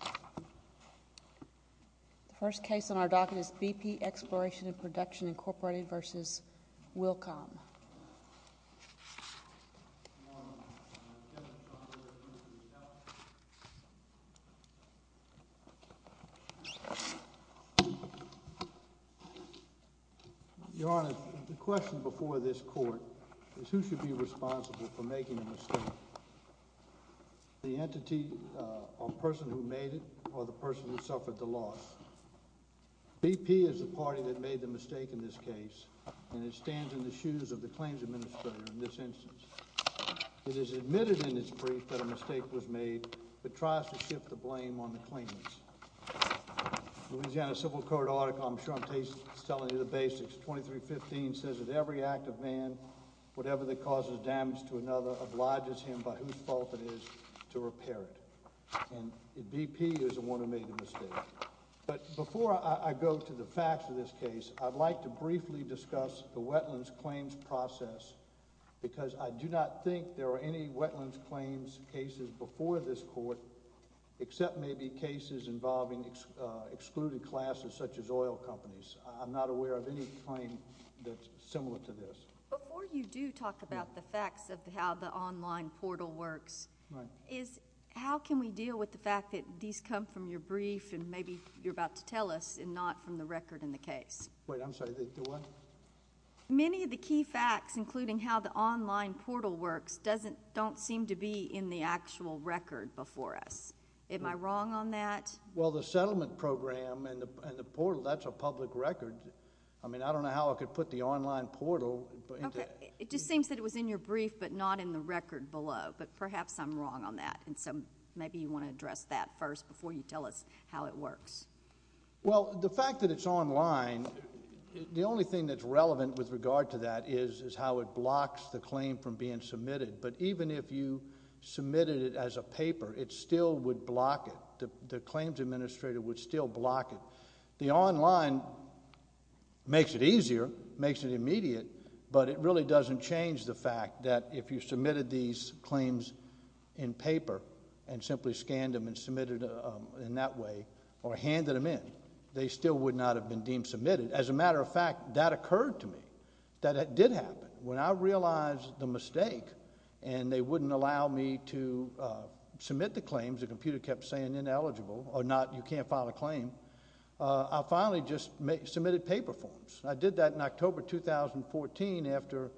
The first case on our docket is BP Exploration and Production, Incorporated v. Wilcom. Your Honor, the question before this court is who should be responsible for making a mistake. The entity or person who made it or the person who suffered the loss. BP is the party that made the mistake in this case and it stands in the shoes of the claims administrator in this instance. It has admitted in its brief that a mistake was made but tries to shift the blame on the claims. Louisiana Civil Court article, I'm sure I'm telling you the basics. 2315 says that every act of man, whatever that causes damage to another, obliges him, by whose fault it is, to repair it. And BP is the one who made the mistake. But before I go to the facts of this case, I'd like to briefly discuss the wetlands claims process because I do not think there are any wetlands claims cases before this court except maybe cases involving excluded classes such as oil companies. I'm not aware of any claim that's similar to this. Before you do talk about the facts of how the online portal works, how can we deal with the fact that these come from your brief and maybe you're about to tell us and not from the record in the case? Wait, I'm sorry, the what? Many of the key facts, including how the online portal works, don't seem to be in the actual record before us. Am I wrong on that? Well, the settlement program and the portal, that's a public record. I mean, I don't know how I could put the online portal. Okay, it just seems that it was in your brief but not in the record below, but perhaps I'm wrong on that. And so maybe you want to address that first before you tell us how it works. Well, the fact that it's online, the only thing that's relevant with regard to that is how it blocks the claim from being submitted. But even if you submitted it as a paper, it still would block it. The claims administrator would still block it. The online makes it easier, makes it immediate, but it really doesn't change the fact that if you submitted these claims in paper and simply scanned them and submitted them in that way or handed them in, they still would not have been deemed submitted. As a matter of fact, that occurred to me, that it did happen. When I realized the mistake and they wouldn't allow me to submit the claims, the computer kept saying ineligible or not, you can't file a claim, I finally just submitted paper forms. I did that in October 2014 after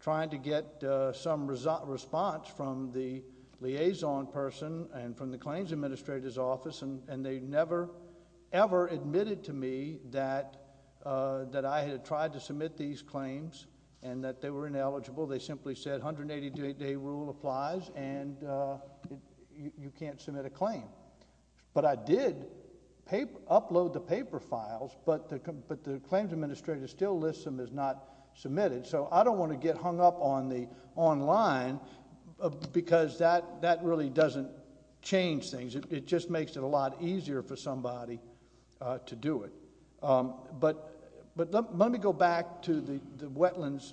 trying to get some response from the liaison person and from the claims administrator's office, and they never, ever admitted to me that I had tried to submit these claims and that they were ineligible. They simply said 180-day rule applies and you can't submit a claim. But I did upload the paper files, but the claims administrator still lists them as not submitted. So I don't want to get hung up on the online because that really doesn't change things. It just makes it a lot easier for somebody to do it. But let me go back to the wetlands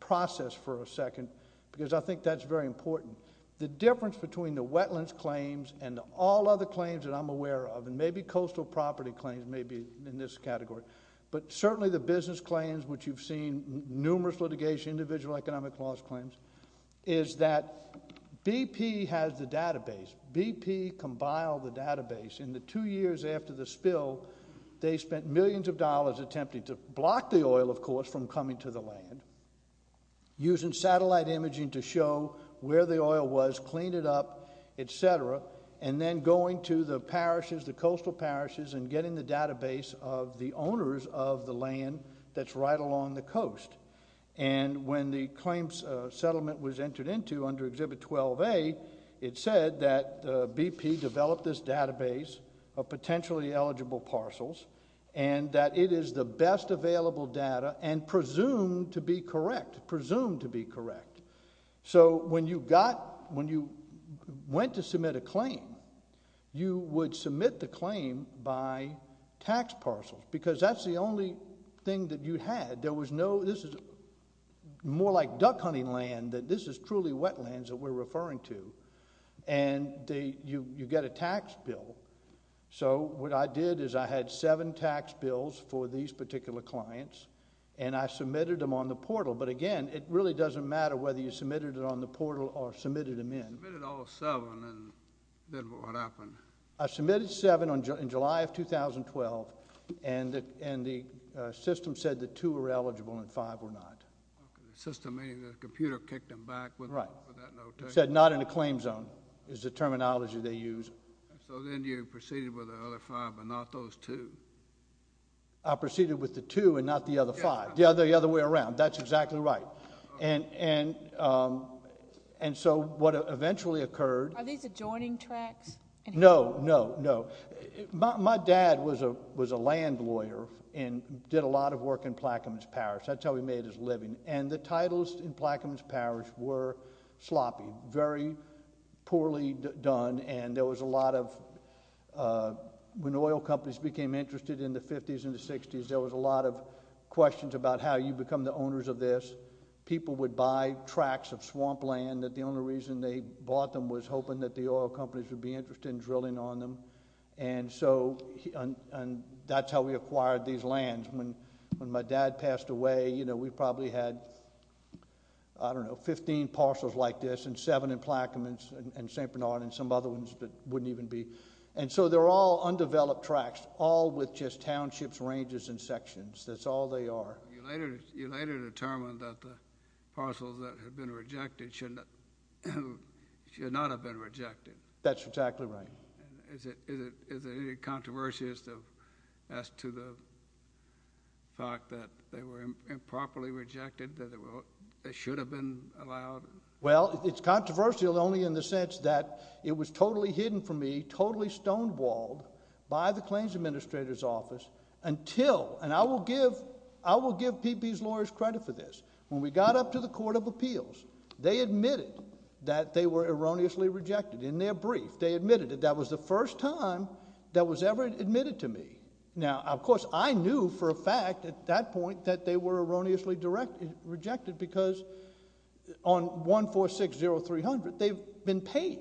process for a second because I think that's very important. The difference between the wetlands claims and all other claims that I'm aware of, and maybe coastal property claims, maybe in this category, but certainly the business claims which you've seen, numerous litigation, individual economic loss claims, is that BP has the database. BP compiled the database. In the two years after the spill, they spent millions of dollars attempting to block the oil, of course, from coming to the land, using satellite imaging to show where the oil was, clean it up, et cetera, and then going to the parishes, the coastal parishes, and getting the database of the owners of the land that's right along the coast. And when the claims settlement was entered into under Exhibit 12A, it said that BP developed this database of potentially eligible parcels and that it is the best available data and presumed to be correct, presumed to be correct. So when you went to submit a claim, you would submit the claim by tax parcels because that's the only thing that you had. This is more like duck hunting land, that this is truly wetlands that we're referring to, and you get a tax bill. So what I did is I had seven tax bills for these particular clients, and I submitted them on the portal. But again, it really doesn't matter whether you submitted it on the portal or submitted them in. Submitted all seven, and then what happened? I submitted seven in July of 2012, and the system said the two were eligible and five were not. The system, meaning the computer kicked them back with that note. Right. It said not in a claim zone is the terminology they used. So then you proceeded with the other five but not those two. I proceeded with the two and not the other five. The other way around. That's exactly right. And so what eventually occurred. Are these adjoining tracts? No, no, no. My dad was a land lawyer and did a lot of work in Plaquemines Parish. That's how he made his living. And the titles in Plaquemines Parish were sloppy, very poorly done, and there was a lot of – when oil companies became interested in the 50s and the 60s, there was a lot of questions about how you become the owners of this. People would buy tracts of swamp land that the only reason they bought them was hoping that the oil companies would be interested in drilling on them. And so that's how we acquired these lands. When my dad passed away, we probably had, I don't know, 15 parcels like this and seven in Plaquemines and St. Bernard and some other ones that wouldn't even be. And so they're all undeveloped tracts, all with just townships, ranges, and sections. That's all they are. You later determined that the parcels that had been rejected should not have been rejected. That's exactly right. Is there any controversy as to the fact that they were improperly rejected, that they should have been allowed? Well, it's controversial only in the sense that it was totally hidden from me, totally stonewalled by the claims administrator's office until – and I will give PP's lawyers credit for this. When we got up to the Court of Appeals, they admitted that they were erroneously rejected. In their brief, they admitted it. That was the first time that was ever admitted to me. Now, of course, I knew for a fact at that point that they were erroneously rejected because on 1460300, they've been paid.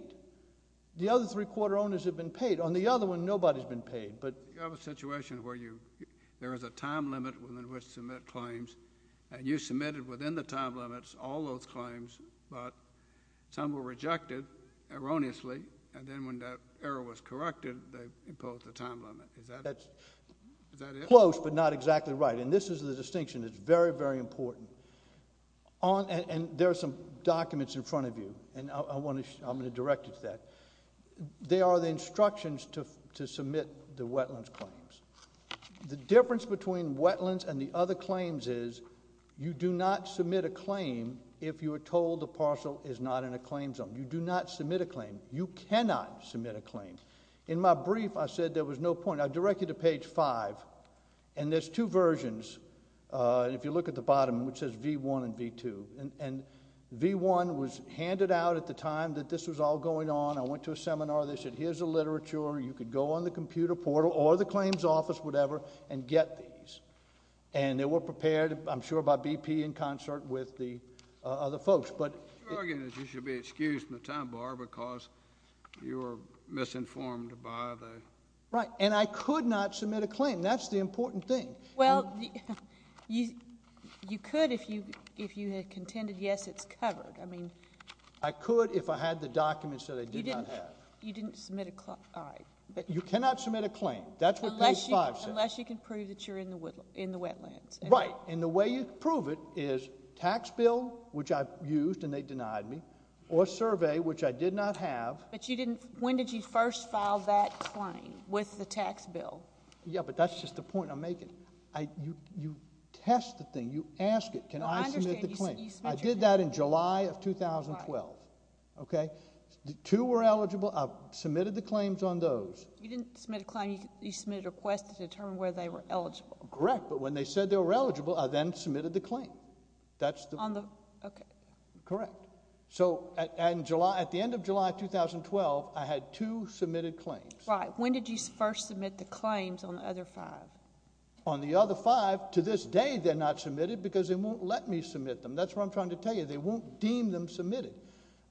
The other three-quarter owners have been paid. On the other one, nobody's been paid. You have a situation where there is a time limit within which to submit claims, and you submitted within the time limits all those claims, but some were rejected erroneously, and then when that error was corrected, they imposed a time limit. Is that it? That's close but not exactly right, and this is the distinction that's very, very important. There are some documents in front of you, and I'm going to direct you to that. They are the instructions to submit the wetlands claims. The difference between wetlands and the other claims is you do not submit a claim if you are told the parcel is not in a claim zone. You do not submit a claim. You cannot submit a claim. In my brief, I said there was no point. I direct you to page 5, and there's two versions. If you look at the bottom, which says V1 and V2, and V1 was handed out at the time that this was all going on. I went to a seminar. They said here's the literature. You could go on the computer portal or the claims office, whatever, and get these, and they were prepared, I'm sure, by BP in concert with the other folks. Your argument is you should be excused from the time bar because you were misinformed by the— Right, and I could not submit a claim. That's the important thing. Well, you could if you had contended, yes, it's covered. I mean— I could if I had the documents that I did not have. You didn't submit a—all right. You cannot submit a claim. That's what page 5 says. Unless you can prove that you're in the wetlands. Right, and the way you prove it is tax bill, which I used and they denied me, or survey, which I did not have. But you didn't—when did you first file that claim with the tax bill? Yeah, but that's just the point I'm making. You test the thing. You ask it. Can I submit the claim? I did that in July of 2012. Okay? Two were eligible. I submitted the claims on those. You didn't submit a claim. You submitted a request to determine whether they were eligible. Correct, but when they said they were eligible, I then submitted the claim. That's the— Okay. Correct. So at the end of July 2012, I had two submitted claims. Right. And when did you first submit the claims on the other five? On the other five, to this day they're not submitted because they won't let me submit them. That's what I'm trying to tell you. They won't deem them submitted.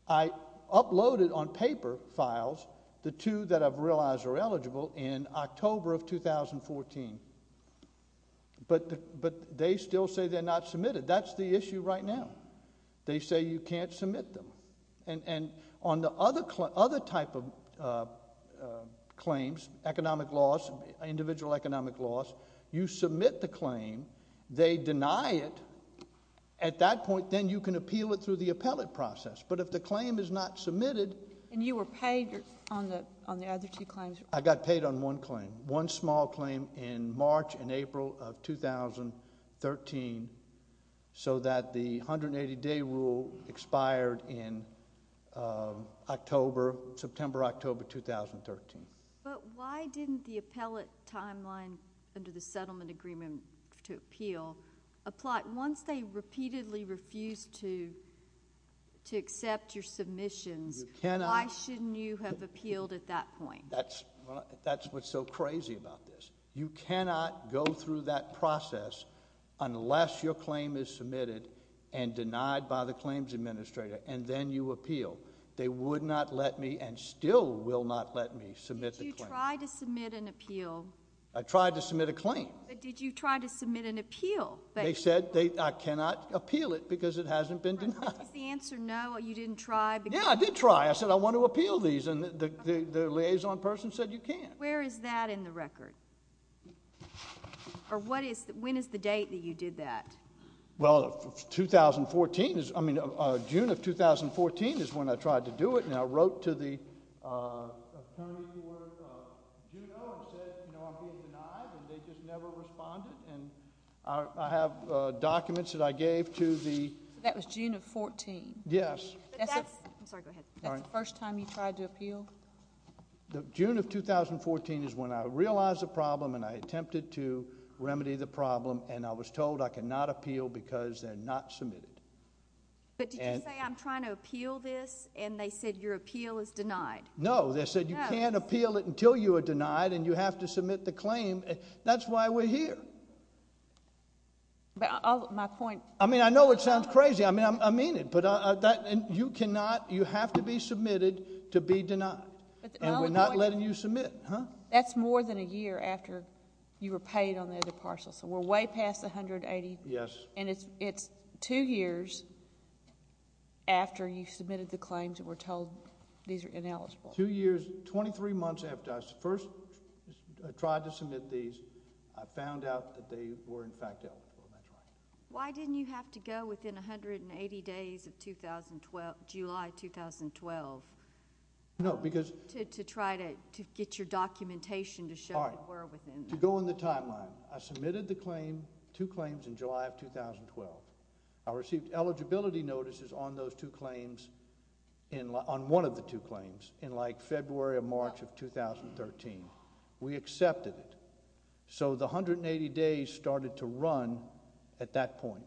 I uploaded on paper files the two that I've realized are eligible in October of 2014. But they still say they're not submitted. That's the issue right now. They say you can't submit them. And on the other type of claims, economic laws, individual economic laws, you submit the claim. They deny it. At that point, then you can appeal it through the appellate process. But if the claim is not submitted— And you were paid on the other two claims? I got paid on one claim, one small claim in March and April of 2013 so that the 180-day rule expired in September, October 2013. But why didn't the appellate timeline under the settlement agreement to appeal apply? Once they repeatedly refused to accept your submissions, why shouldn't you have appealed at that point? That's what's so crazy about this. You cannot go through that process unless your claim is submitted and denied by the claims administrator, and then you appeal. They would not let me and still will not let me submit the claim. Did you try to submit an appeal? I tried to submit a claim. But did you try to submit an appeal? They said I cannot appeal it because it hasn't been denied. But did the answer no, you didn't try? Yeah, I did try. I said I want to appeal these, and the liaison person said you can't. Where is that in the record? Or when is the date that you did that? Well, June of 2014 is when I tried to do it, and I wrote to the attorney for Juneau and said, you know, I'm being denied, and they just never responded, and I have documents that I gave to the ---- So that was June of 14? Yes. I'm sorry, go ahead. That's the first time you tried to appeal? June of 2014 is when I realized the problem, and I attempted to remedy the problem, and I was told I cannot appeal because they're not submitted. But did you say I'm trying to appeal this, and they said your appeal is denied? No, they said you can't appeal it until you are denied, and you have to submit the claim. That's why we're here. My point ---- I mean, I know it sounds crazy. I mean it. You cannot, you have to be submitted to be denied, and we're not letting you submit. That's more than a year after you were paid on the other parcel, so we're way past 180. Yes. And it's two years after you submitted the claims and were told these are ineligible. Two years, 23 months after I first tried to submit these, I found out that they were in fact eligible. Why didn't you have to go within 180 days of July 2012? No, because ---- To try to get your documentation to show it were within. All right. To go in the timeline. I submitted the claim, two claims in July of 2012. I received eligibility notices on those two claims, on one of the two claims, in like February or March of 2013. We accepted it. So the 180 days started to run at that point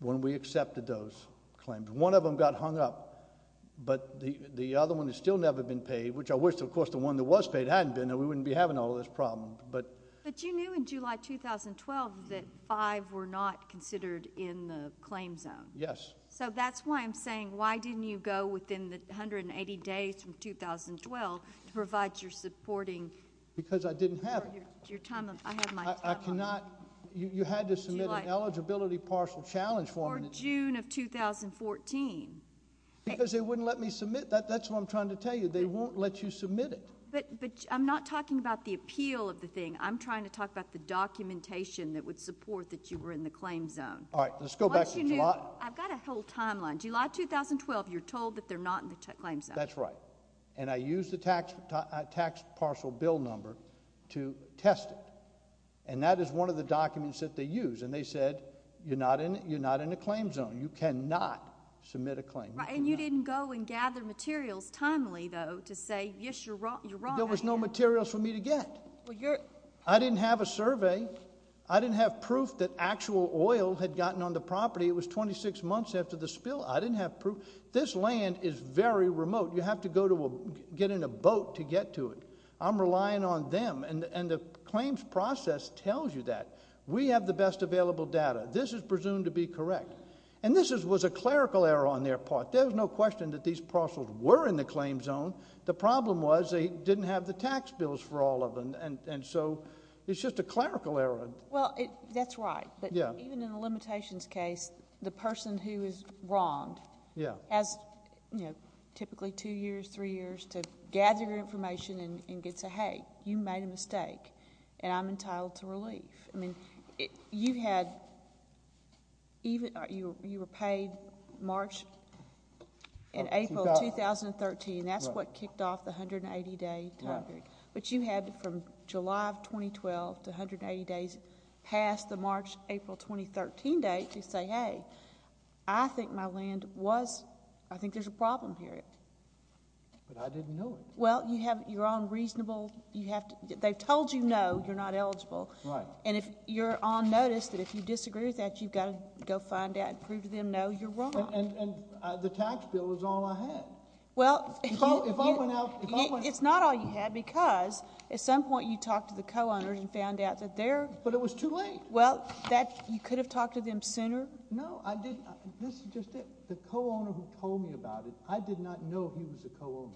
when we accepted those claims. One of them got hung up, but the other one has still never been paid, which I wish, of course, the one that was paid hadn't been, and we wouldn't be having all this problem. But you knew in July 2012 that five were not considered in the claim zone. Yes. So that's why I'm saying why didn't you go within the 180 days from 2012 to provide your supporting? Because I didn't have it. I have my time on it. I cannot. You had to submit an eligibility parcel challenge form. Or June of 2014. Because they wouldn't let me submit that. That's what I'm trying to tell you. They won't let you submit it. But I'm not talking about the appeal of the thing. I'm trying to talk about the documentation that would support that you were in the claim zone. All right. Let's go back to July. I've got a whole timeline. July 2012, you're told that they're not in the claim zone. That's right. And I used the tax parcel bill number to test it. And that is one of the documents that they use. And they said you're not in a claim zone. You cannot submit a claim. And you didn't go and gather materials timely, though, to say, yes, you're right. There was no materials for me to get. I didn't have a survey. I didn't have proof that actual oil had gotten on the property. It was 26 months after the spill. I didn't have proof. This land is very remote. You have to get in a boat to get to it. I'm relying on them. And the claims process tells you that. We have the best available data. This is presumed to be correct. And this was a clerical error on their part. There was no question that these parcels were in the claim zone. The problem was they didn't have the tax bills for all of them. And so it's just a clerical error. Well, that's right. But even in a limitations case, the person who is wronged has typically two years, three years to gather your information and get to say, hey, you made a mistake. And I'm entitled to relief. I mean, you were paid March and April 2013. That's what kicked off the 180-day time period. But you had from July of 2012 to 180 days past the March-April 2013 date to say, hey, I think my land was ‑‑ I think there's a problem here. But I didn't know it. Well, you have your own reasonable ‑‑ they've told you no, you're not eligible. Right. And you're on notice that if you disagree with that, you've got to go find out and prove to them, no, you're wrong. And the tax bill is all I had. Well, if I went out ‑‑ It's not all you had because at some point you talked to the co‑owners and found out that they're ‑‑ But it was too late. Well, you could have talked to them sooner. No, I didn't. This is just it. The co‑owner who told me about it, I did not know he was a co‑owner.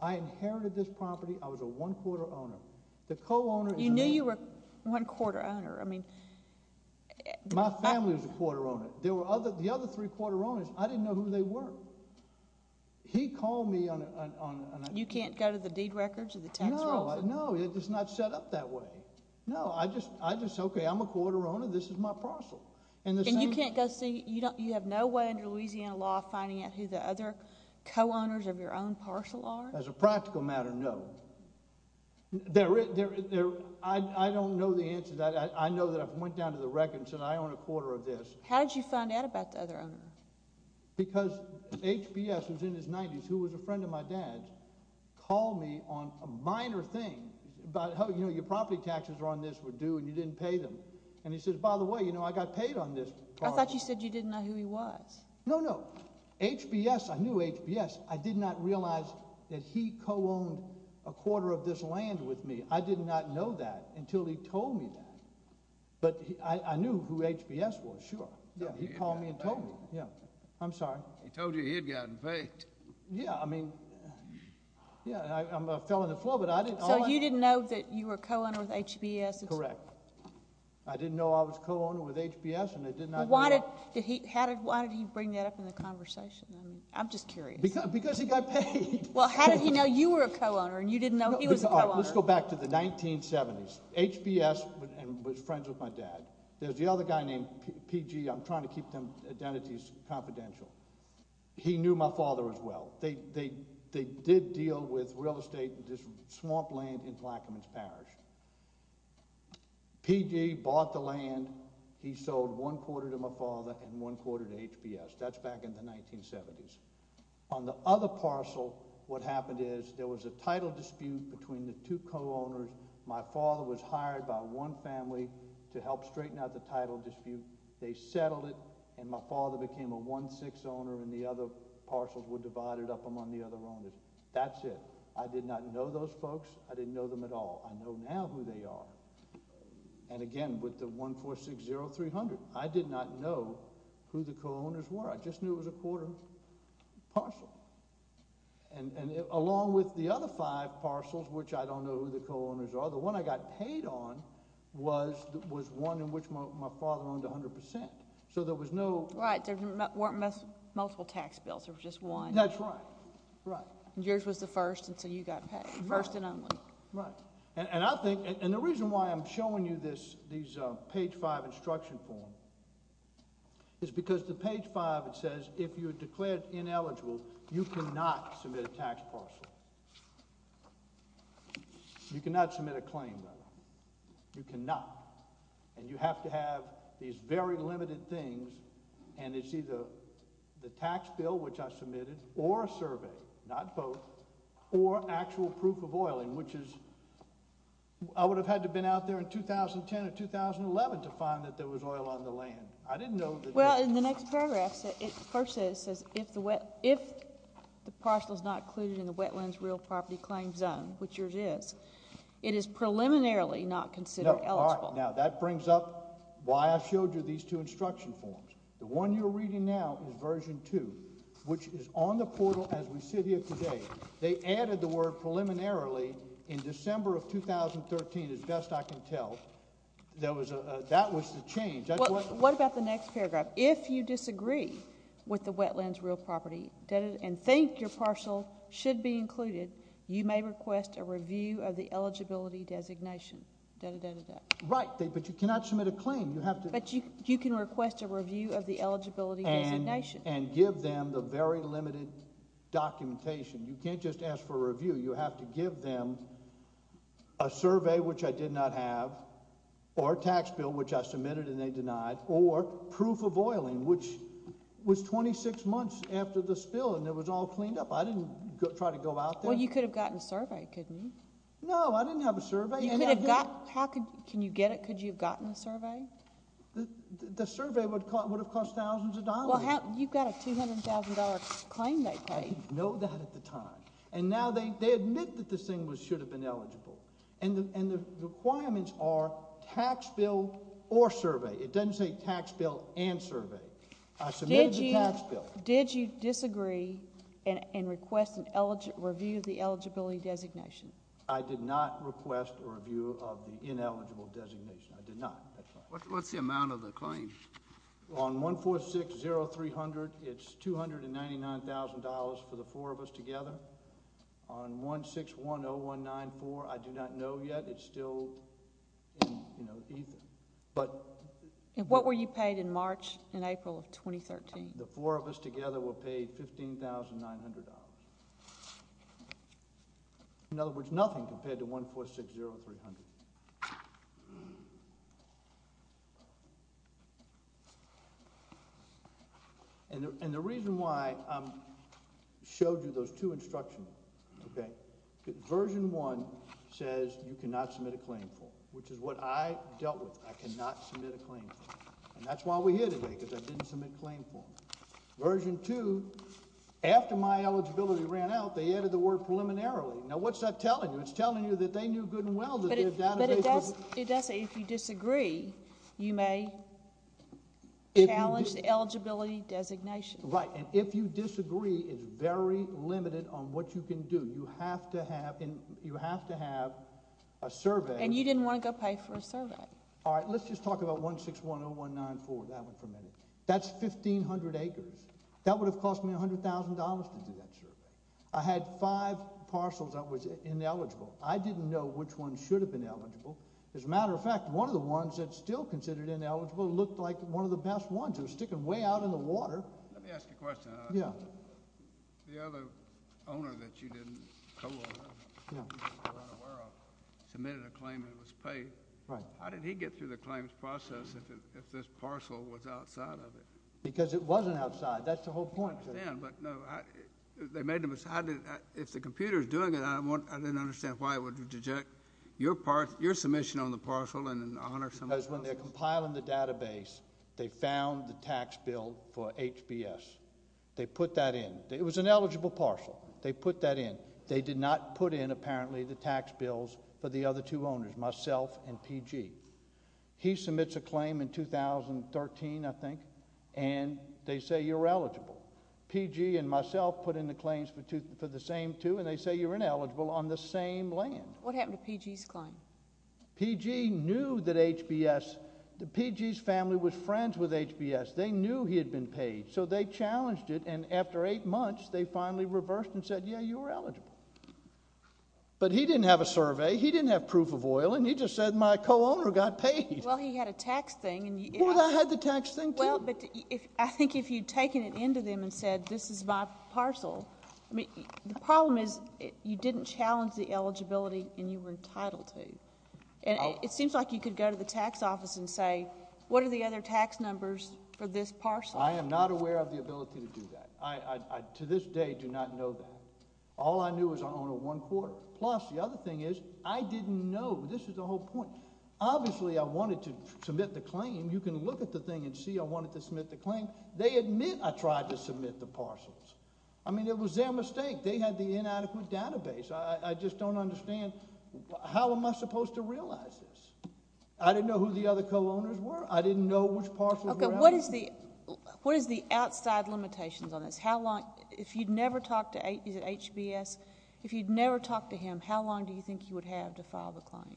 I inherited this property. I was a one‑quarter owner. The co‑owner ‑‑ You knew you were a one‑quarter owner. I mean ‑‑ My family was a quarter owner. The other three quarter owners, I didn't know who they were. He called me on a ‑‑ You can't go to the deed records or the tax rolls? No, no, it's not set up that way. No, I just, okay, I'm a quarter owner. This is my parcel. And you can't go see ‑‑ you have no way under Louisiana law finding out who the other co‑owners of your own parcel are? As a practical matter, no. I don't know the answer to that. I know that I went down to the records and I own a quarter of this. How did you find out about the other owner? Because HBS was in his 90s, who was a friend of my dad's, called me on a minor thing about how, you know, your property taxes are on this were due and you didn't pay them. And he says, by the way, you know, I got paid on this parcel. I thought you said you didn't know who he was. No, no. HBS, I knew HBS. I did not realize that he co‑owned a quarter of this land with me. I did not know that until he told me that. But I knew who HBS was, sure. Yeah, he called me and told me. Yeah. I'm sorry. He told you he had gotten paid. Yeah, I mean, yeah, I fell on the floor. So you didn't know that you were a co‑owner with HBS? Correct. I didn't know I was a co‑owner with HBS. Why did he bring that up in the conversation? I'm just curious. Because he got paid. Well, how did he know you were a co‑owner and you didn't know he was a co‑owner? Let's go back to the 1970s. HBS was friends with my dad. There's the other guy named PG. I'm trying to keep them identities confidential. He knew my father as well. They did deal with real estate, this swamp land in Clackamas Parish. PG bought the land. He sold one quarter to my father and one quarter to HBS. That's back in the 1970s. On the other parcel, what happened is there was a title dispute between the two co‑owners. My father was hired by one family to help straighten out the title dispute. They settled it, and my father became a 1‑6 owner, and the other parcels were divided up among the other owners. That's it. I did not know those folks. I didn't know them at all. I know now who they are. And again, with the 1460300, I did not know who the co‑owners were. I just knew it was a quarter parcel. And along with the other five parcels, which I don't know who the co‑owners are, the one I got paid on was one in which my father owned 100%. So there was no ‑‑ Right. There weren't multiple tax bills. There was just one. That's right. Right. And yours was the first, and so you got paid first and only. Right. And I think, and the reason why I'm showing you these page 5 instruction forms is because the page 5, it says if you're declared ineligible, you cannot submit a tax parcel. You cannot submit a claim, by the way. You cannot. And you have to have these very limited things, and it's either the tax bill, which I submitted, or a survey, not both, or actual proof of oil, which is ‑‑ I would have had to have been out there in 2010 or 2011 to find that there was oil on the land. I didn't know that ‑‑ Well, in the next paragraph, it first says, if the parcel is not included in the Wetlands Real Property Claims Zone, which yours is, it is preliminarily not considered eligible. Now, that brings up why I showed you these two instruction forms. The one you're reading now is version 2, which is on the portal as we sit here today. They added the word preliminarily in December of 2013, as best I can tell. That was the change. What about the next paragraph? If you disagree with the Wetlands Real Property and think your parcel should be included, you may request a review of the eligibility designation. Right, but you cannot submit a claim. But you can request a review of the eligibility designation. And give them the very limited documentation. You can't just ask for a review. You have to give them a survey, which I did not have, or a tax bill, which I submitted and they denied, or proof of oiling, which was 26 months after the spill, and it was all cleaned up. I didn't try to go out there. Well, you could have gotten a survey, couldn't you? No, I didn't have a survey. You could have got ‑‑ Can you get it? Could you have gotten a survey? The survey would have cost thousands of dollars. Well, you've got a $200,000 claim they paid. I didn't know that at the time. And now they admit that this thing should have been eligible. And the requirements are tax bill or survey. It doesn't say tax bill and survey. I submitted the tax bill. Did you disagree and request a review of the eligibility designation? I did not request a review of the ineligible designation. I did not. What's the amount of the claim? On 1460300, it's $299,000 for the four of us together. On 1610194, I do not know yet. It's still, you know, either. And what were you paid in March and April of 2013? The four of us together were paid $15,900. In other words, nothing compared to 1460300. And the reason why I showed you those two instructions, okay, version one says you cannot submit a claim for it, which is what I dealt with. I cannot submit a claim for it. And that's why we're here today, because I didn't submit a claim for it. Version two, after my eligibility ran out, they added the word preliminarily. Now, what's that telling you? It's telling you that they knew good and well that their database was... But it does say if you disagree, you may challenge the eligibility designation. Right, and if you disagree, it's very limited on what you can do. You have to have a survey. And you didn't want to go pay for a survey. All right, let's just talk about 1610194. That went for a minute. That's 1,500 acres. That would have cost me $100,000 to do that survey. I had five parcels that was ineligible. I didn't know which ones should have been eligible. As a matter of fact, one of the ones that's still considered ineligible looked like one of the best ones. It was sticking way out in the water. Let me ask you a question. Yeah. The other owner that you didn't co-own, that you were unaware of, submitted a claim and was paid. Right. How did he get through the claims process if this parcel was outside of it? Because it wasn't outside. That's the whole point. I understand. But, no, they made a mistake. If the computer is doing it, I didn't understand why it would reject your submission on the parcel and honor someone else's. Because when they're compiling the database, they found the tax bill for HBS. They put that in. It was an eligible parcel. They put that in. They did not put in, apparently, the tax bills for the other two owners, myself and P.G. He submits a claim in 2013, I think, and they say you're eligible. P.G. and myself put in the claims for the same two, and they say you're ineligible on the same land. What happened to P.G.'s claim? P.G. knew that HBS, that P.G.'s family was friends with HBS. They knew he had been paid. So they challenged it, and after eight months, they finally reversed and said, yeah, you're eligible. But he didn't have a survey. He didn't have proof of oil, and he just said my co-owner got paid. Well, he had a tax thing. Well, I had the tax thing, too. Well, but I think if you'd taken it into them and said this is my parcel, the problem is you didn't challenge the eligibility and you were entitled to. It seems like you could go to the tax office and say, what are the other tax numbers for this parcel? I am not aware of the ability to do that. I, to this day, do not know that. All I knew is I'm only one quarter. Plus, the other thing is I didn't know. This is the whole point. Obviously, I wanted to submit the claim. You can look at the thing and see I wanted to submit the claim. They admit I tried to submit the parcels. I mean, it was their mistake. They had the inadequate database. I just don't understand how am I supposed to realize this. I didn't know who the other co-owners were. I didn't know which parcels were eligible. Okay, what is the outside limitations on this? If you'd never talked to HBS, if you'd never talked to him, how long do you think you would have to file the claim?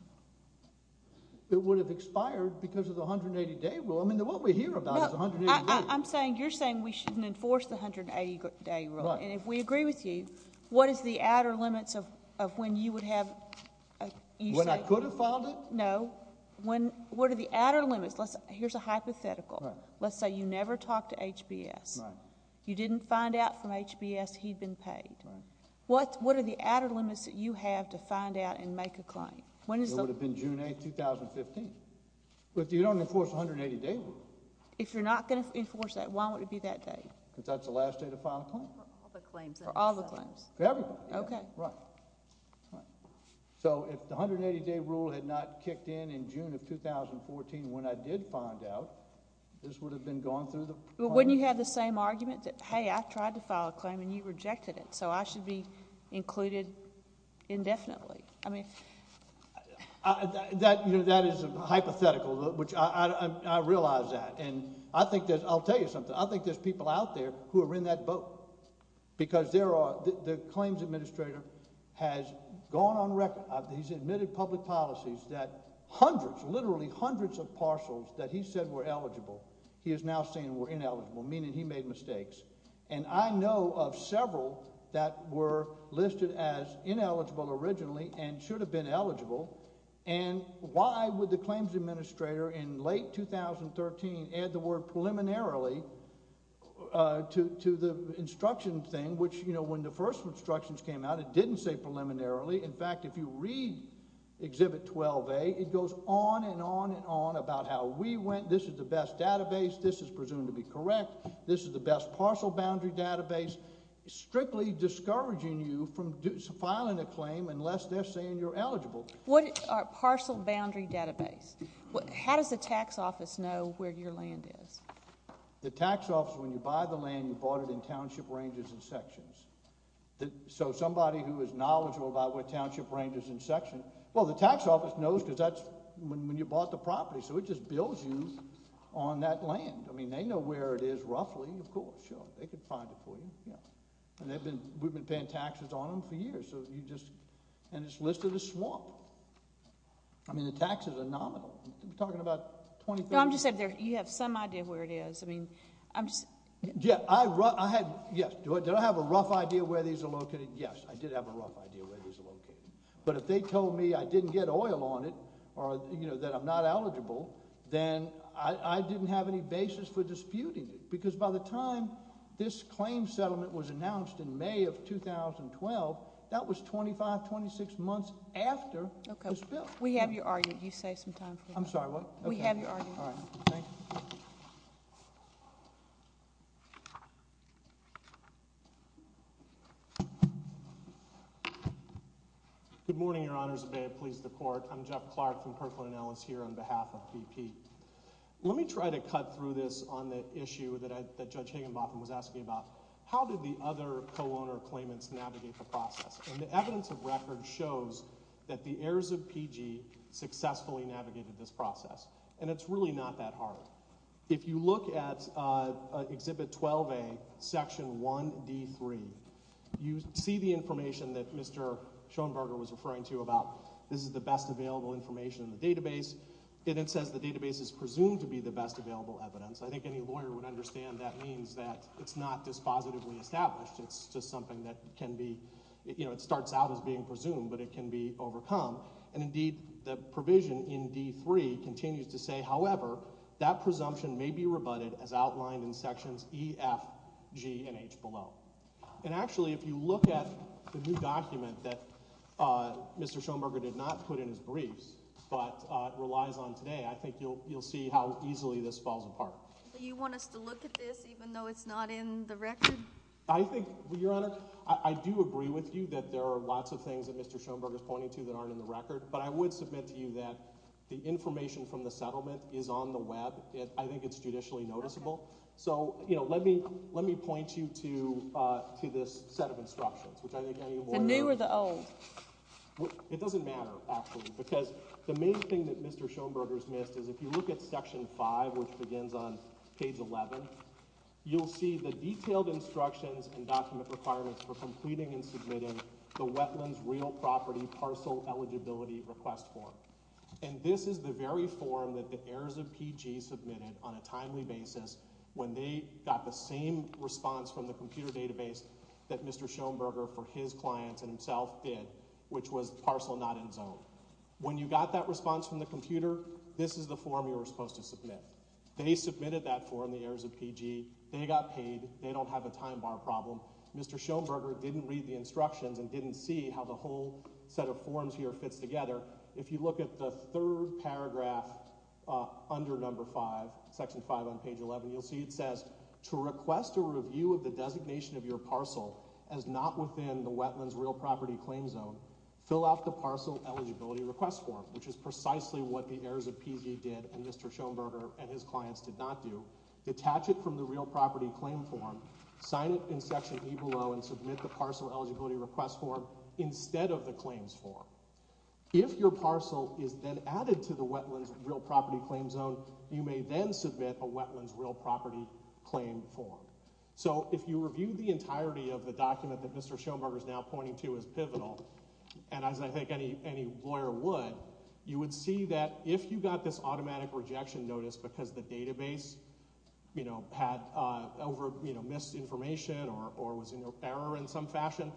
It would have expired because of the 180-day rule. I mean, what we hear about is 180 days. I'm saying you're saying we shouldn't enforce the 180-day rule. And if we agree with you, what is the outer limits of when you would have? When I could have filed it? No. What are the outer limits? Here's a hypothetical. Let's say you never talked to HBS. Right. You didn't find out from HBS he'd been paid. Right. What are the outer limits that you have to find out and make a claim? It would have been June 8, 2015. But you don't enforce the 180-day rule. If you're not going to enforce that, why would it be that day? Because that's the last day to file a claim. For all the claims. For all the claims. For everything. Okay. Right. So if the 180-day rule had not kicked in in June of 2014 when I did find out, this would have been gone through the process? When you had the same argument that, hey, I tried to file a claim and you rejected it, so I should be included indefinitely. I mean. That is a hypothetical, which I realize that. And I'll tell you something. I think there's people out there who are in that boat. Because the claims administrator has gone on record. He's admitted public policies that hundreds, literally hundreds of parcels that he said were eligible, he is now saying were ineligible, meaning he made mistakes. And I know of several that were listed as ineligible originally and should have been eligible. And why would the claims administrator in late 2013 add the word preliminarily to the instruction thing, which, you know, when the first instructions came out, it didn't say preliminarily. In fact, if you read Exhibit 12A, it goes on and on and on about how we went. This is the best database. This is presumed to be correct. This is the best parcel boundary database. Strictly discouraging you from filing a claim unless they're saying you're eligible. What are parcel boundary database? How does the tax office know where your land is? The tax office, when you buy the land, you bought it in township ranges and sections. So somebody who is knowledgeable about what township ranges and sections, well, the tax office knows because that's when you bought the property. So it just bills you on that land. I mean, they know where it is roughly, of course. Sure, they could find it for you. Yeah. And we've been paying taxes on them for years. And it's listed as swamp. I mean, the taxes are nominal. You're talking about 2013. No, I'm just saying you have some idea of where it is. I mean, I'm just— Yeah, I had—yes. Did I have a rough idea of where these are located? Yes, I did have a rough idea of where these are located. But if they told me I didn't get oil on it or that I'm not eligible, then I didn't have any basis for disputing it because by the time this claim settlement was announced in May of 2012, that was 25, 26 months after this bill. We have your argument. You save some time for that. I'm sorry, what? We have your argument. All right. Thank you. Good morning, Your Honors. May it please the Court. I'm Jeff Clark from Kirkland & Ellis here on behalf of BP. Let me try to cut through this on the issue that Judge Higginbotham was asking about. How did the other co-owner claimants navigate the process? And the evidence of record shows that the heirs of PG successfully navigated this process, and it's really not that hard. If you look at Exhibit 12A, Section 1D3, you see the information that Mr. Schoenberger was referring to about this is the best available information in the database, and it says the database is presumed to be the best available evidence. I think any lawyer would understand that means that it's not dispositively established. It's just something that can be – it starts out as being presumed, but it can be overcome. And indeed, the provision in D3 continues to say, however, that presumption may be rebutted as outlined in Sections E, F, G, and H below. And actually, if you look at the new document that Mr. Schoenberger did not put in his briefs but relies on today, I think you'll see how easily this falls apart. Do you want us to look at this even though it's not in the record? I think, Your Honor, I do agree with you that there are lots of things that Mr. Schoenberger is pointing to that aren't in the record, but I would submit to you that the information from the settlement is on the web. I think it's judicially noticeable. So let me point you to this set of instructions, which I think any lawyer— The new or the old? It doesn't matter, actually, because the main thing that Mr. Schoenberger has missed is if you look at Section 5, which begins on page 11, you'll see the detailed instructions and document requirements for completing and submitting the Wetlands Real Property Parcel Eligibility Request Form. And this is the very form that the heirs of PG submitted on a timely basis when they got the same response from the computer database that Mr. Schoenberger for his clients and himself did, which was parcel not in zone. When you got that response from the computer, this is the form you were supposed to submit. They submitted that form, the heirs of PG. They got paid. They don't have a time bar problem. Mr. Schoenberger didn't read the instructions and didn't see how the whole set of forms here fits together. If you look at the third paragraph under Number 5, Section 5 on page 11, you'll see it says, to request a review of the designation of your parcel as not within the Wetlands Real Property Claim Zone, fill out the Parcel Eligibility Request Form, which is precisely what the heirs of PG did and Mr. Schoenberger and his clients did not do. Detach it from the Real Property Claim Form, sign it in Section E below, and submit the Parcel Eligibility Request Form instead of the Claims Form. If your parcel is then added to the Wetlands Real Property Claim Zone, you may then submit a Wetlands Real Property Claim Form. So if you review the entirety of the document that Mr. Schoenberger is now pointing to as pivotal, and as I think any lawyer would, you would see that if you got this automatic rejection notice because the database, you know, missed information or was in error in some fashion,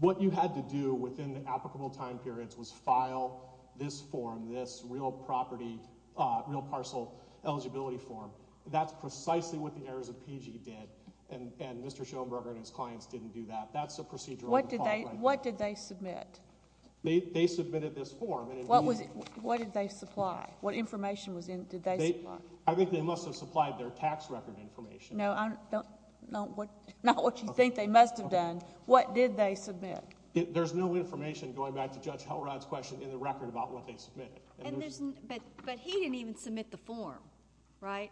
what you had to do within the applicable time periods was file this form, this Real Property, Real Parcel Eligibility Form. That's precisely what the heirs of PG did, and Mr. Schoenberger and his clients didn't do that. That's a procedural default right now. What did they submit? They submitted this form. What did they supply? What information did they supply? I think they must have supplied their tax record information. No, not what you think they must have done. What did they submit? There's no information, going back to Judge Helrod's question, in the record about what they submitted. But he didn't even submit the form, right?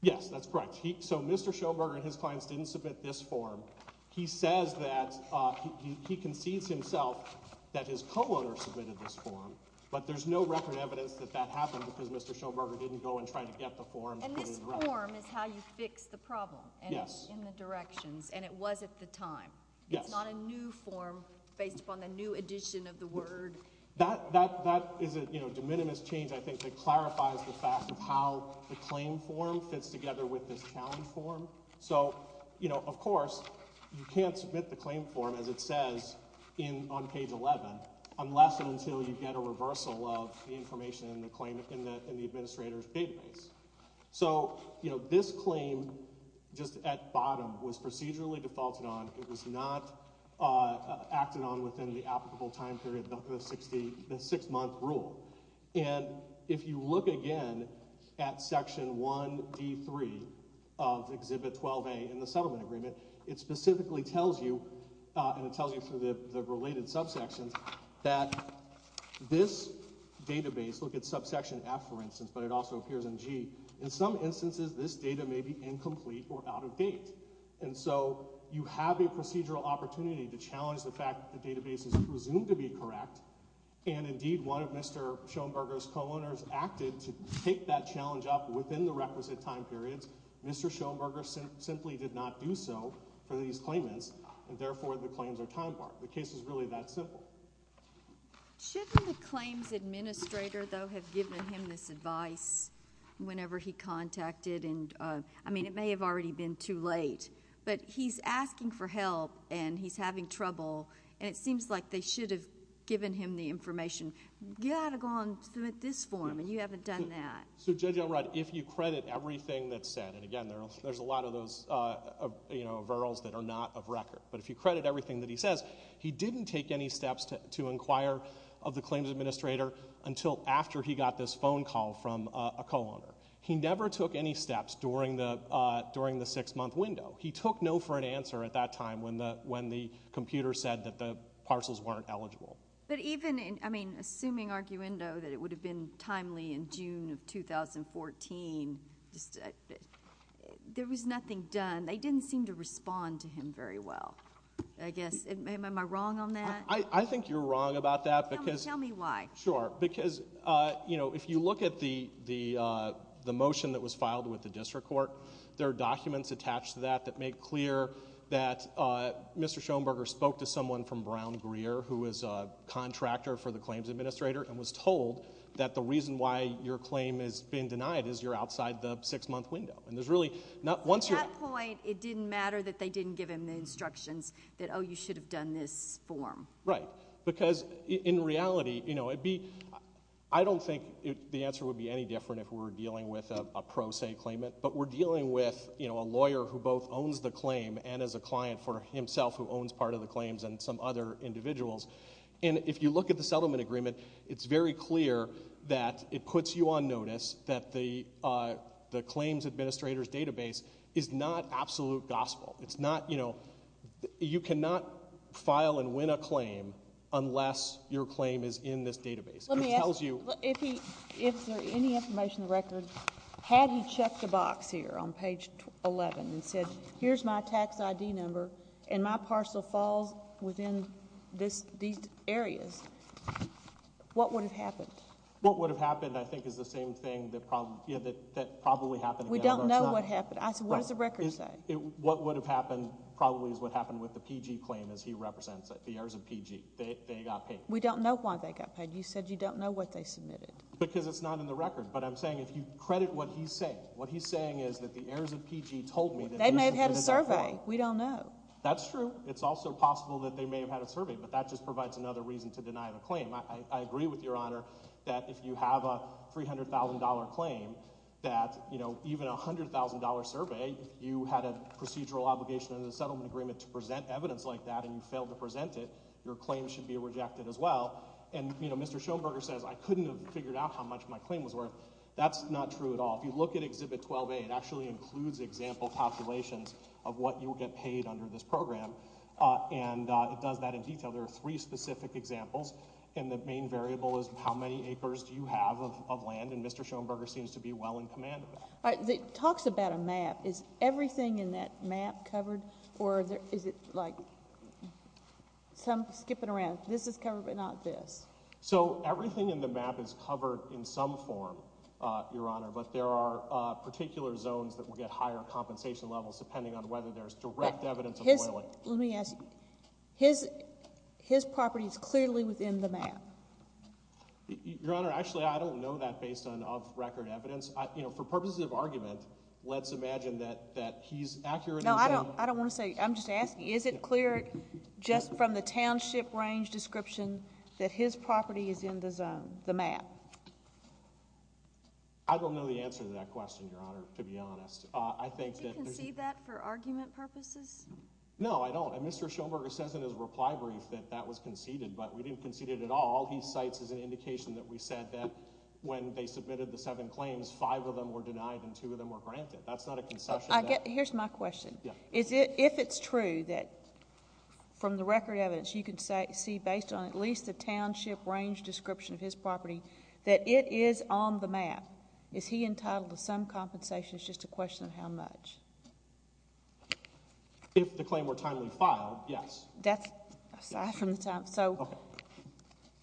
Yes, that's correct. So Mr. Schoenberger and his clients didn't submit this form. He says that he concedes himself that his co-owner submitted this form, but there's no record evidence that that happened because Mr. Schoenberger didn't go and try to get the form. And this form is how you fix the problem in the directions, and it was at the time. It's not a new form based upon the new addition of the word. That is a de minimis change, I think, that clarifies the fact of how the claim form fits together with this challenge form. So, of course, you can't submit the claim form, as it says on page 11, unless and until you get a reversal of the information in the administrator's database. So this claim, just at bottom, was procedurally defaulted on. It was not acted on within the applicable time period of the six-month rule. And if you look again at section 1D3 of Exhibit 12A in the settlement agreement, it specifically tells you, and it tells you through the related subsections, that this database, look at subsection F, for instance, but it also appears in G, in some instances this data may be incomplete or out of date. And so you have a procedural opportunity to challenge the fact that the database is presumed to be correct. And, indeed, one of Mr. Schoenberger's co-owners acted to take that challenge up within the requisite time periods. Mr. Schoenberger simply did not do so for these claimants, and therefore the claims are time-barred. The case is really that simple. Shouldn't the claims administrator, though, have given him this advice whenever he contacted? And, I mean, it may have already been too late. But he's asking for help, and he's having trouble, and it seems like they should have given him the information. You've got to go and submit this form, and you haven't done that. So, Judge Elrod, if you credit everything that's said, and, again, there's a lot of those, you know, referrals that are not of record. But if you credit everything that he says, he didn't take any steps to inquire of the claims administrator until after he got this phone call from a co-owner. He never took any steps during the six-month window. He took no for an answer at that time when the computer said that the parcels weren't eligible. But even, I mean, assuming arguendo that it would have been timely in June of 2014, there was nothing done. They didn't seem to respond to him very well, I guess. Am I wrong on that? I think you're wrong about that. Tell me why. Sure, because, you know, if you look at the motion that was filed with the district court, there are documents attached to that that make clear that Mr. Schoenberger spoke to someone from Brown Greer, who is a contractor for the claims administrator, and was told that the reason why your claim is being denied is you're outside the six-month window. At that point, it didn't matter that they didn't give him the instructions that, oh, you should have done this form. Right. Because in reality, you know, I don't think the answer would be any different if we were dealing with a pro se claimant, but we're dealing with, you know, a lawyer who both owns the claim and is a client for himself who owns part of the claims and some other individuals. And if you look at the settlement agreement, it's very clear that it puts you on notice that the claims administrator's database is not absolute gospel. It's not, you know, you cannot file and win a claim unless your claim is in this database. Let me ask you, if there's any information in the record, had he checked the box here on page 11 and said, here's my tax ID number, and my parcel falls within these areas, what would have happened? What would have happened, I think, is the same thing that probably happened again. We don't know what happened. I said, what does the record say? What would have happened probably is what happened with the PG claim as he represents it, the heirs of PG. They got paid. We don't know why they got paid. You said you don't know what they submitted. Because it's not in the record. But I'm saying if you credit what he's saying. What he's saying is that the heirs of PG told me that they submitted that form. They may have had a survey. We don't know. That's true. It's also possible that they may have had a survey, but that just provides another reason to deny the claim. I agree with Your Honor that if you have a $300,000 claim, that even a $100,000 survey, you had a procedural obligation under the settlement agreement to present evidence like that, and you failed to present it, your claim should be rejected as well. And Mr. Schoenberger says, I couldn't have figured out how much my claim was worth. That's not true at all. If you look at Exhibit 12A, it actually includes example calculations of what you would get paid under this program. And it does that in detail. There are three specific examples, and the main variable is how many acres do you have of land, and Mr. Schoenberger seems to be well in command of it. It talks about a map. Is everything in that map covered? Or is it like some skipping around? This is covered, but not this. So everything in the map is covered in some form, Your Honor, but there are particular zones that will get higher compensation levels, depending on whether there's direct evidence of oiling. Well, let me ask you, his property is clearly within the map. Your Honor, actually I don't know that based on off-record evidence. For purposes of argument, let's imagine that he's accurate. No, I don't want to say, I'm just asking, is it clear just from the township range description that his property is in the zone, the map? I don't know the answer to that question, Your Honor, to be honest. Do you concede that for argument purposes? No, I don't, and Mr. Schoenberger says in his reply brief that that was conceded, but we didn't concede it at all. He cites as an indication that we said that when they submitted the seven claims, five of them were denied and two of them were granted. That's not a concession. Here's my question. If it's true that from the record evidence you can see, based on at least the township range description of his property, that it is on the map, is he entitled to some compensation? It's just a question of how much. If the claim were timely filed, yes. Aside from the time. So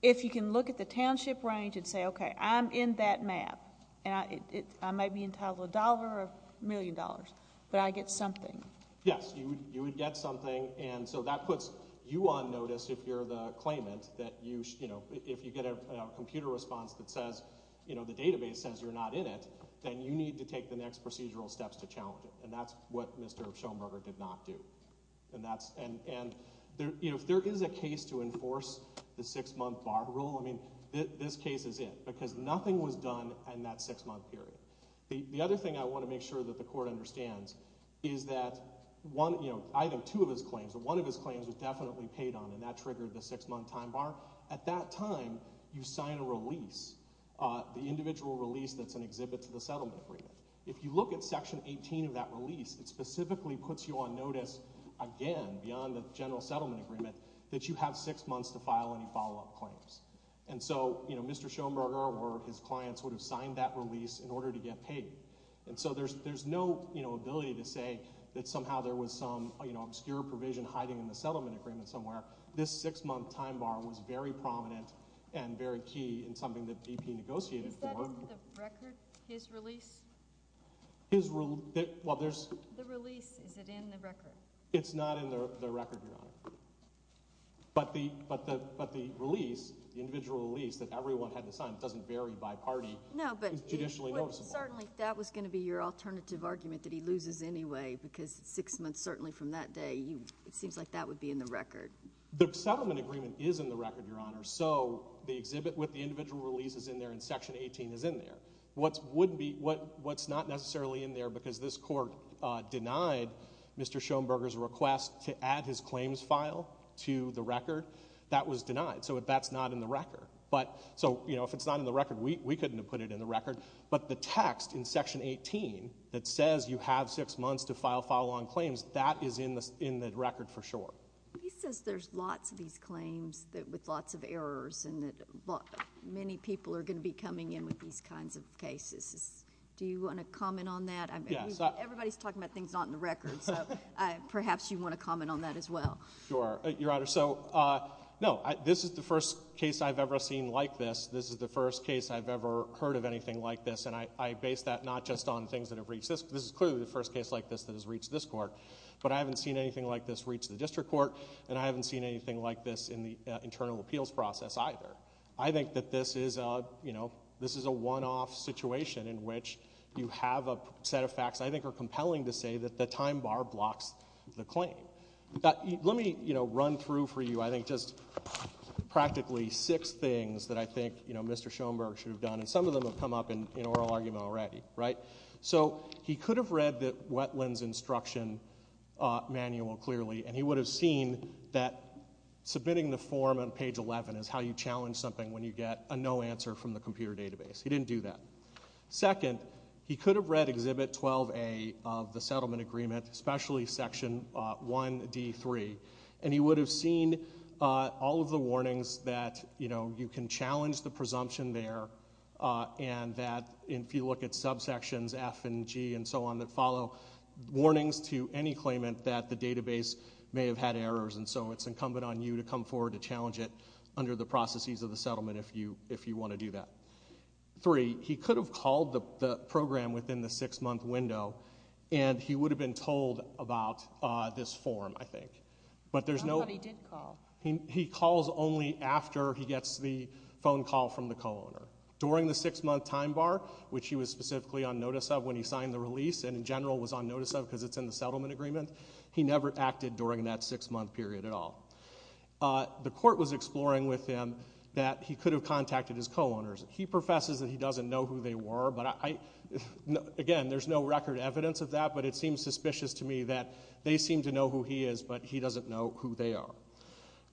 if you can look at the township range and say, okay, I'm in that map, and I may be entitled to a dollar or a million dollars, but I get something. Yes, you would get something, and so that puts you on notice if you're the claimant, that if you get a computer response that says the database says you're not in it, then you need to take the next procedural steps to challenge it, and that's what Mr. Schoenberger did not do. And if there is a case to enforce the six-month bar rule, this case is it because nothing was done in that six-month period. The other thing I want to make sure that the court understands is that I have two of his claims, but one of his claims was definitely paid on, and that triggered the six-month time bar. At that time, you sign a release, the individual release that's an exhibit to the settlement agreement. If you look at Section 18 of that release, it specifically puts you on notice, again, beyond the general settlement agreement, that you have six months to file any follow-up claims. And so Mr. Schoenberger or his clients would have signed that release in order to get paid. And so there's no ability to say that somehow there was some obscure provision hiding in the settlement agreement somewhere. This six-month time bar was very prominent and very key in something that BP negotiated for. Is that in the record, his release? Well, there's— The release, is it in the record? It's not in the record, Your Honor. But the release, the individual release that everyone had to sign, it doesn't vary by party, is judicially noticeable. Certainly, that was going to be your alternative argument, that he loses anyway because six months certainly from that day, it seems like that would be in the record. The settlement agreement is in the record, Your Honor. So the exhibit with the individual release is in there and Section 18 is in there. What's not necessarily in there because this court denied Mr. Schoenberger's request to add his claims file to the record, that was denied. So that's not in the record. So if it's not in the record, we couldn't have put it in the record. But the text in Section 18 that says you have six months to file file-on claims, that is in the record for sure. He says there's lots of these claims with lots of errors and that many people are going to be coming in with these kinds of cases. Do you want to comment on that? Everybody's talking about things not in the record, so perhaps you want to comment on that as well. Sure, Your Honor. So, no, this is the first case I've ever seen like this. This is the first case I've ever heard of anything like this, and I base that not just on things that have reached this. This is clearly the first case like this that has reached this court. But I haven't seen anything like this reach the district court, and I haven't seen anything like this in the internal appeals process either. I think that this is a one-off situation in which you have a set of facts I think are compelling to say that the time bar blocks the claim. Let me run through for you, I think, just practically six things that I think Mr. Schoenberg should have done, and some of them have come up in oral argument already. So he could have read the wetlands instruction manual clearly, and he would have seen that submitting the form on page 11 is how you challenge something when you get a no answer from the computer database. He didn't do that. Second, he could have read Exhibit 12A of the settlement agreement, especially Section 1D3, and he would have seen all of the warnings that you can challenge the presumption there and that if you look at subsections F and G and so on that follow, warnings to any claimant that the database may have had errors, and so it's incumbent on you to come forward to challenge it under the processes of the settlement if you want to do that. Three, he could have called the program within the six-month window, and he would have been told about this form, I think. Somebody did call. He calls only after he gets the phone call from the co-owner. During the six-month time bar, which he was specifically on notice of when he signed the release and in general was on notice of because it's in the settlement agreement, he never acted during that six-month period at all. The court was exploring with him that he could have contacted his co-owners. He professes that he doesn't know who they were, but again, there's no record evidence of that, but it seems suspicious to me that they seem to know who he is, but he doesn't know who they are.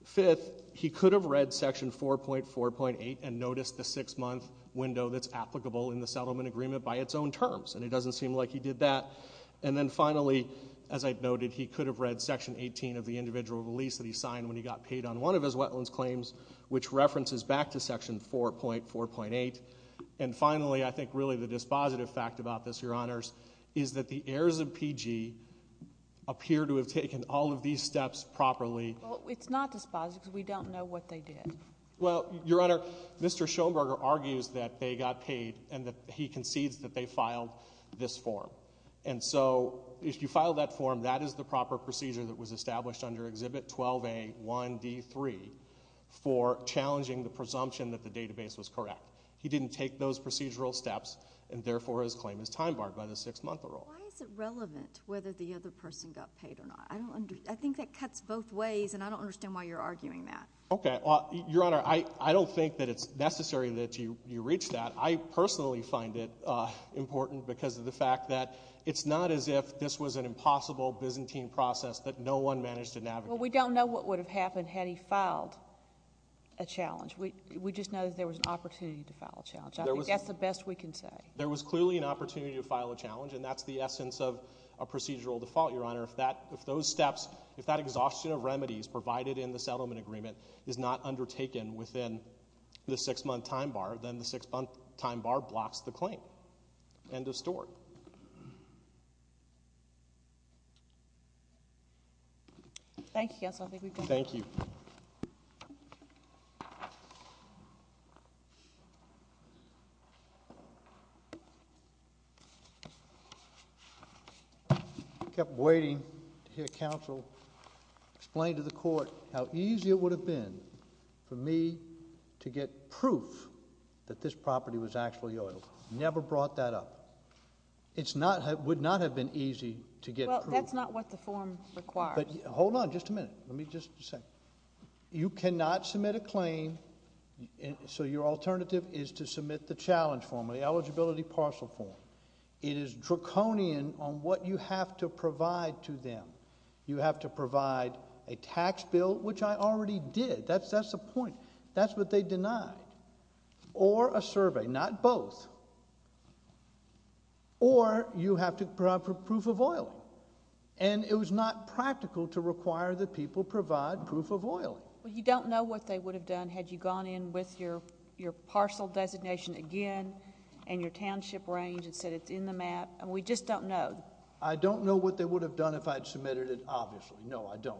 Fifth, he could have read Section 4.4.8 and noticed the six-month window that's applicable in the settlement agreement by its own terms, and it doesn't seem like he did that. And then finally, as I noted, he could have read Section 18 of the individual release that he signed when he got paid on one of his wetlands claims, which references back to Section 4.4.8. And finally, I think really the dispositive fact about this, Your Honors, is that the heirs of PG appear to have taken all of these steps properly. Well, it's not dispositive because we don't know what they did. Well, Your Honor, Mr. Schoenberger argues that they got paid and that he concedes that they filed this form, and so if you filed that form, that is the proper procedure that was established under Exhibit 12A1D3 for challenging the presumption that the database was correct. He didn't take those procedural steps, and therefore his claim is time-barred by the six-month rule. Why is it relevant whether the other person got paid or not? I think that cuts both ways, and I don't understand why you're arguing that. Okay. Well, Your Honor, I don't think that it's necessary that you reach that. I personally find it important because of the fact that it's not as if this was an impossible Byzantine process that no one managed to navigate. Well, we don't know what would have happened had he filed a challenge. We just know that there was an opportunity to file a challenge. I think that's the best we can say. There was clearly an opportunity to file a challenge, and that's the essence of a procedural default, Your Honor. If those steps, if that exhaustion of remedies provided in the settlement agreement is not undertaken within the six-month time bar, then the six-month time bar blocks the claim. End of story. Thank you, counsel. Thank you. I kept waiting to hear counsel explain to the court how easy it would have been for me to get proof that this property was actually oiled. Never brought that up. It would not have been easy to get proof. Well, that's not what the form requires. Hold on just a minute. Let me just say. You cannot submit a claim, so your alternative is to submit the challenge form, the eligibility parcel form. It is draconian on what you have to provide to them. You have to provide a tax bill, which I already did. That's the point. That's what they denied. Or a survey. Not both. Or you have to provide proof of oil. And it was not practical to require that people provide proof of oil. Well, you don't know what they would have done had you gone in with your parcel designation again and your township range and said it's in the map. We just don't know. I don't know what they would have done if I had submitted it, obviously. No, I don't.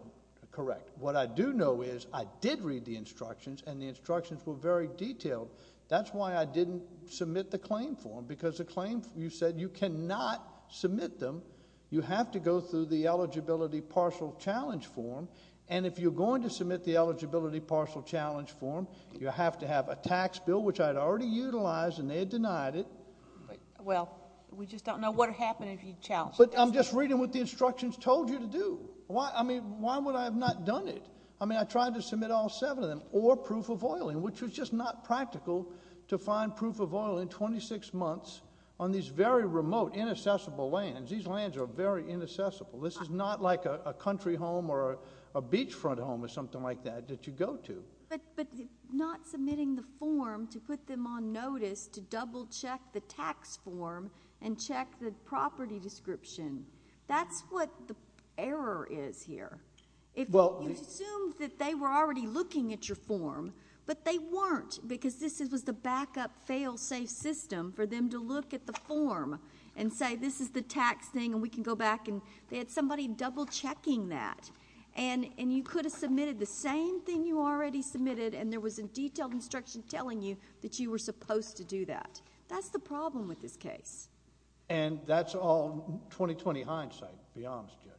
Correct. What I do know is I did read the instructions, and the instructions were very detailed. That's why I didn't submit the claim form, because you said you cannot submit them. You have to go through the eligibility parcel challenge form, and if you're going to submit the eligibility parcel challenge form, you have to have a tax bill, which I had already utilized, and they had denied it. Well, we just don't know what would happen if you challenged it. But I'm just reading what the instructions told you to do. I mean, why would I have not done it? I mean, I tried to submit all seven of them, or proof of oil, which was just not practical to find proof of oil in 26 months on these very remote, inaccessible lands. These lands are very inaccessible. This is not like a country home or a beachfront home or something like that that you go to. But not submitting the form to put them on notice to double-check the tax form and check the property description. That's what the error is here. You assumed that they were already looking at your form, but they weren't, because this was the backup fail-safe system for them to look at the form and say, this is the tax thing, and we can go back. They had somebody double-checking that, and you could have submitted the same thing you already submitted, and there was a detailed instruction telling you that you were supposed to do that. That's the problem with this case. And that's all 2020 hindsight, to be honest, Judge.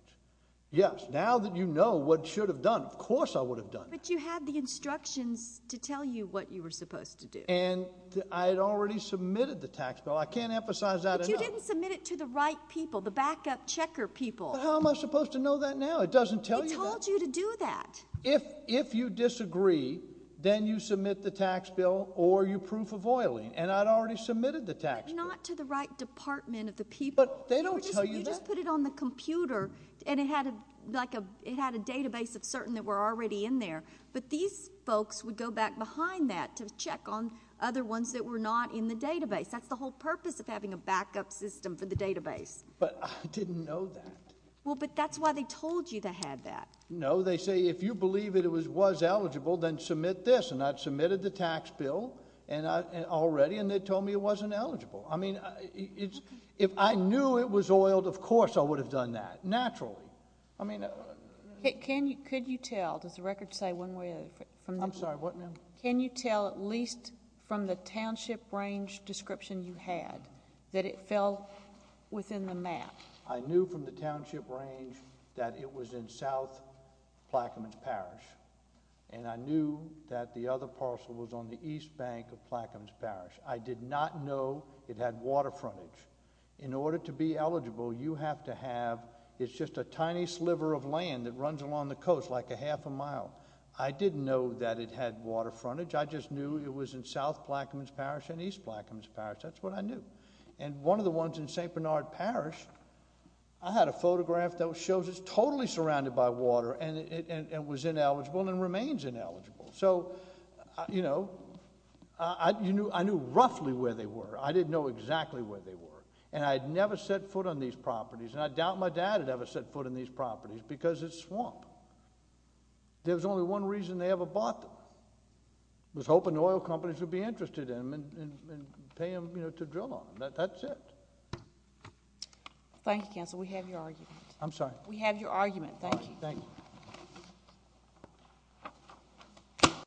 Yes, now that you know what you should have done, of course I would have done that. But you had the instructions to tell you what you were supposed to do. And I had already submitted the tax bill. I can't emphasize that enough. But you didn't submit it to the right people, the backup checker people. But how am I supposed to know that now? It doesn't tell you that. We told you to do that. If you disagree, then you submit the tax bill or your proof of oiling. And I'd already submitted the tax bill. But not to the right department of the people. But they don't tell you that. You just put it on the computer, and it had a database of certain that were already in there. But these folks would go back behind that to check on other ones that were not in the database. That's the whole purpose of having a backup system for the database. But I didn't know that. Well, but that's why they told you they had that. No, they say if you believe it was eligible, then submit this. And I'd submitted the tax bill already, and they told me it wasn't eligible. I mean, if I knew it was oiled, of course I would have done that. Naturally. Could you tell, does the record say one way or the other? I'm sorry, what, ma'am? Can you tell at least from the Township Range description you had that it fell within the map? I knew from the Township Range that it was in South Plaquemines Parish. And I knew that the other parcel was on the east bank of Plaquemines Parish. I did not know it had water frontage. In order to be eligible, you have to have, it's just a tiny sliver of land that runs along the coast like a half a mile. I didn't know that it had water frontage. I just knew it was in South Plaquemines Parish and East Plaquemines Parish. That's what I knew. And one of the ones in St. Bernard Parish, I had a photograph that shows it's totally surrounded by water and it was ineligible and remains ineligible. So, you know, I knew roughly where they were. I didn't know exactly where they were. And I had never set foot on these properties, and I doubt my dad had ever set foot on these properties because it's swamp. There was only one reason they ever bought them. It was hoping oil companies would be interested in them and pay them, you know, to drill on them. That's it. Thank you, counsel. We have your argument. I'm sorry. We have your argument. Thank you. Thank you.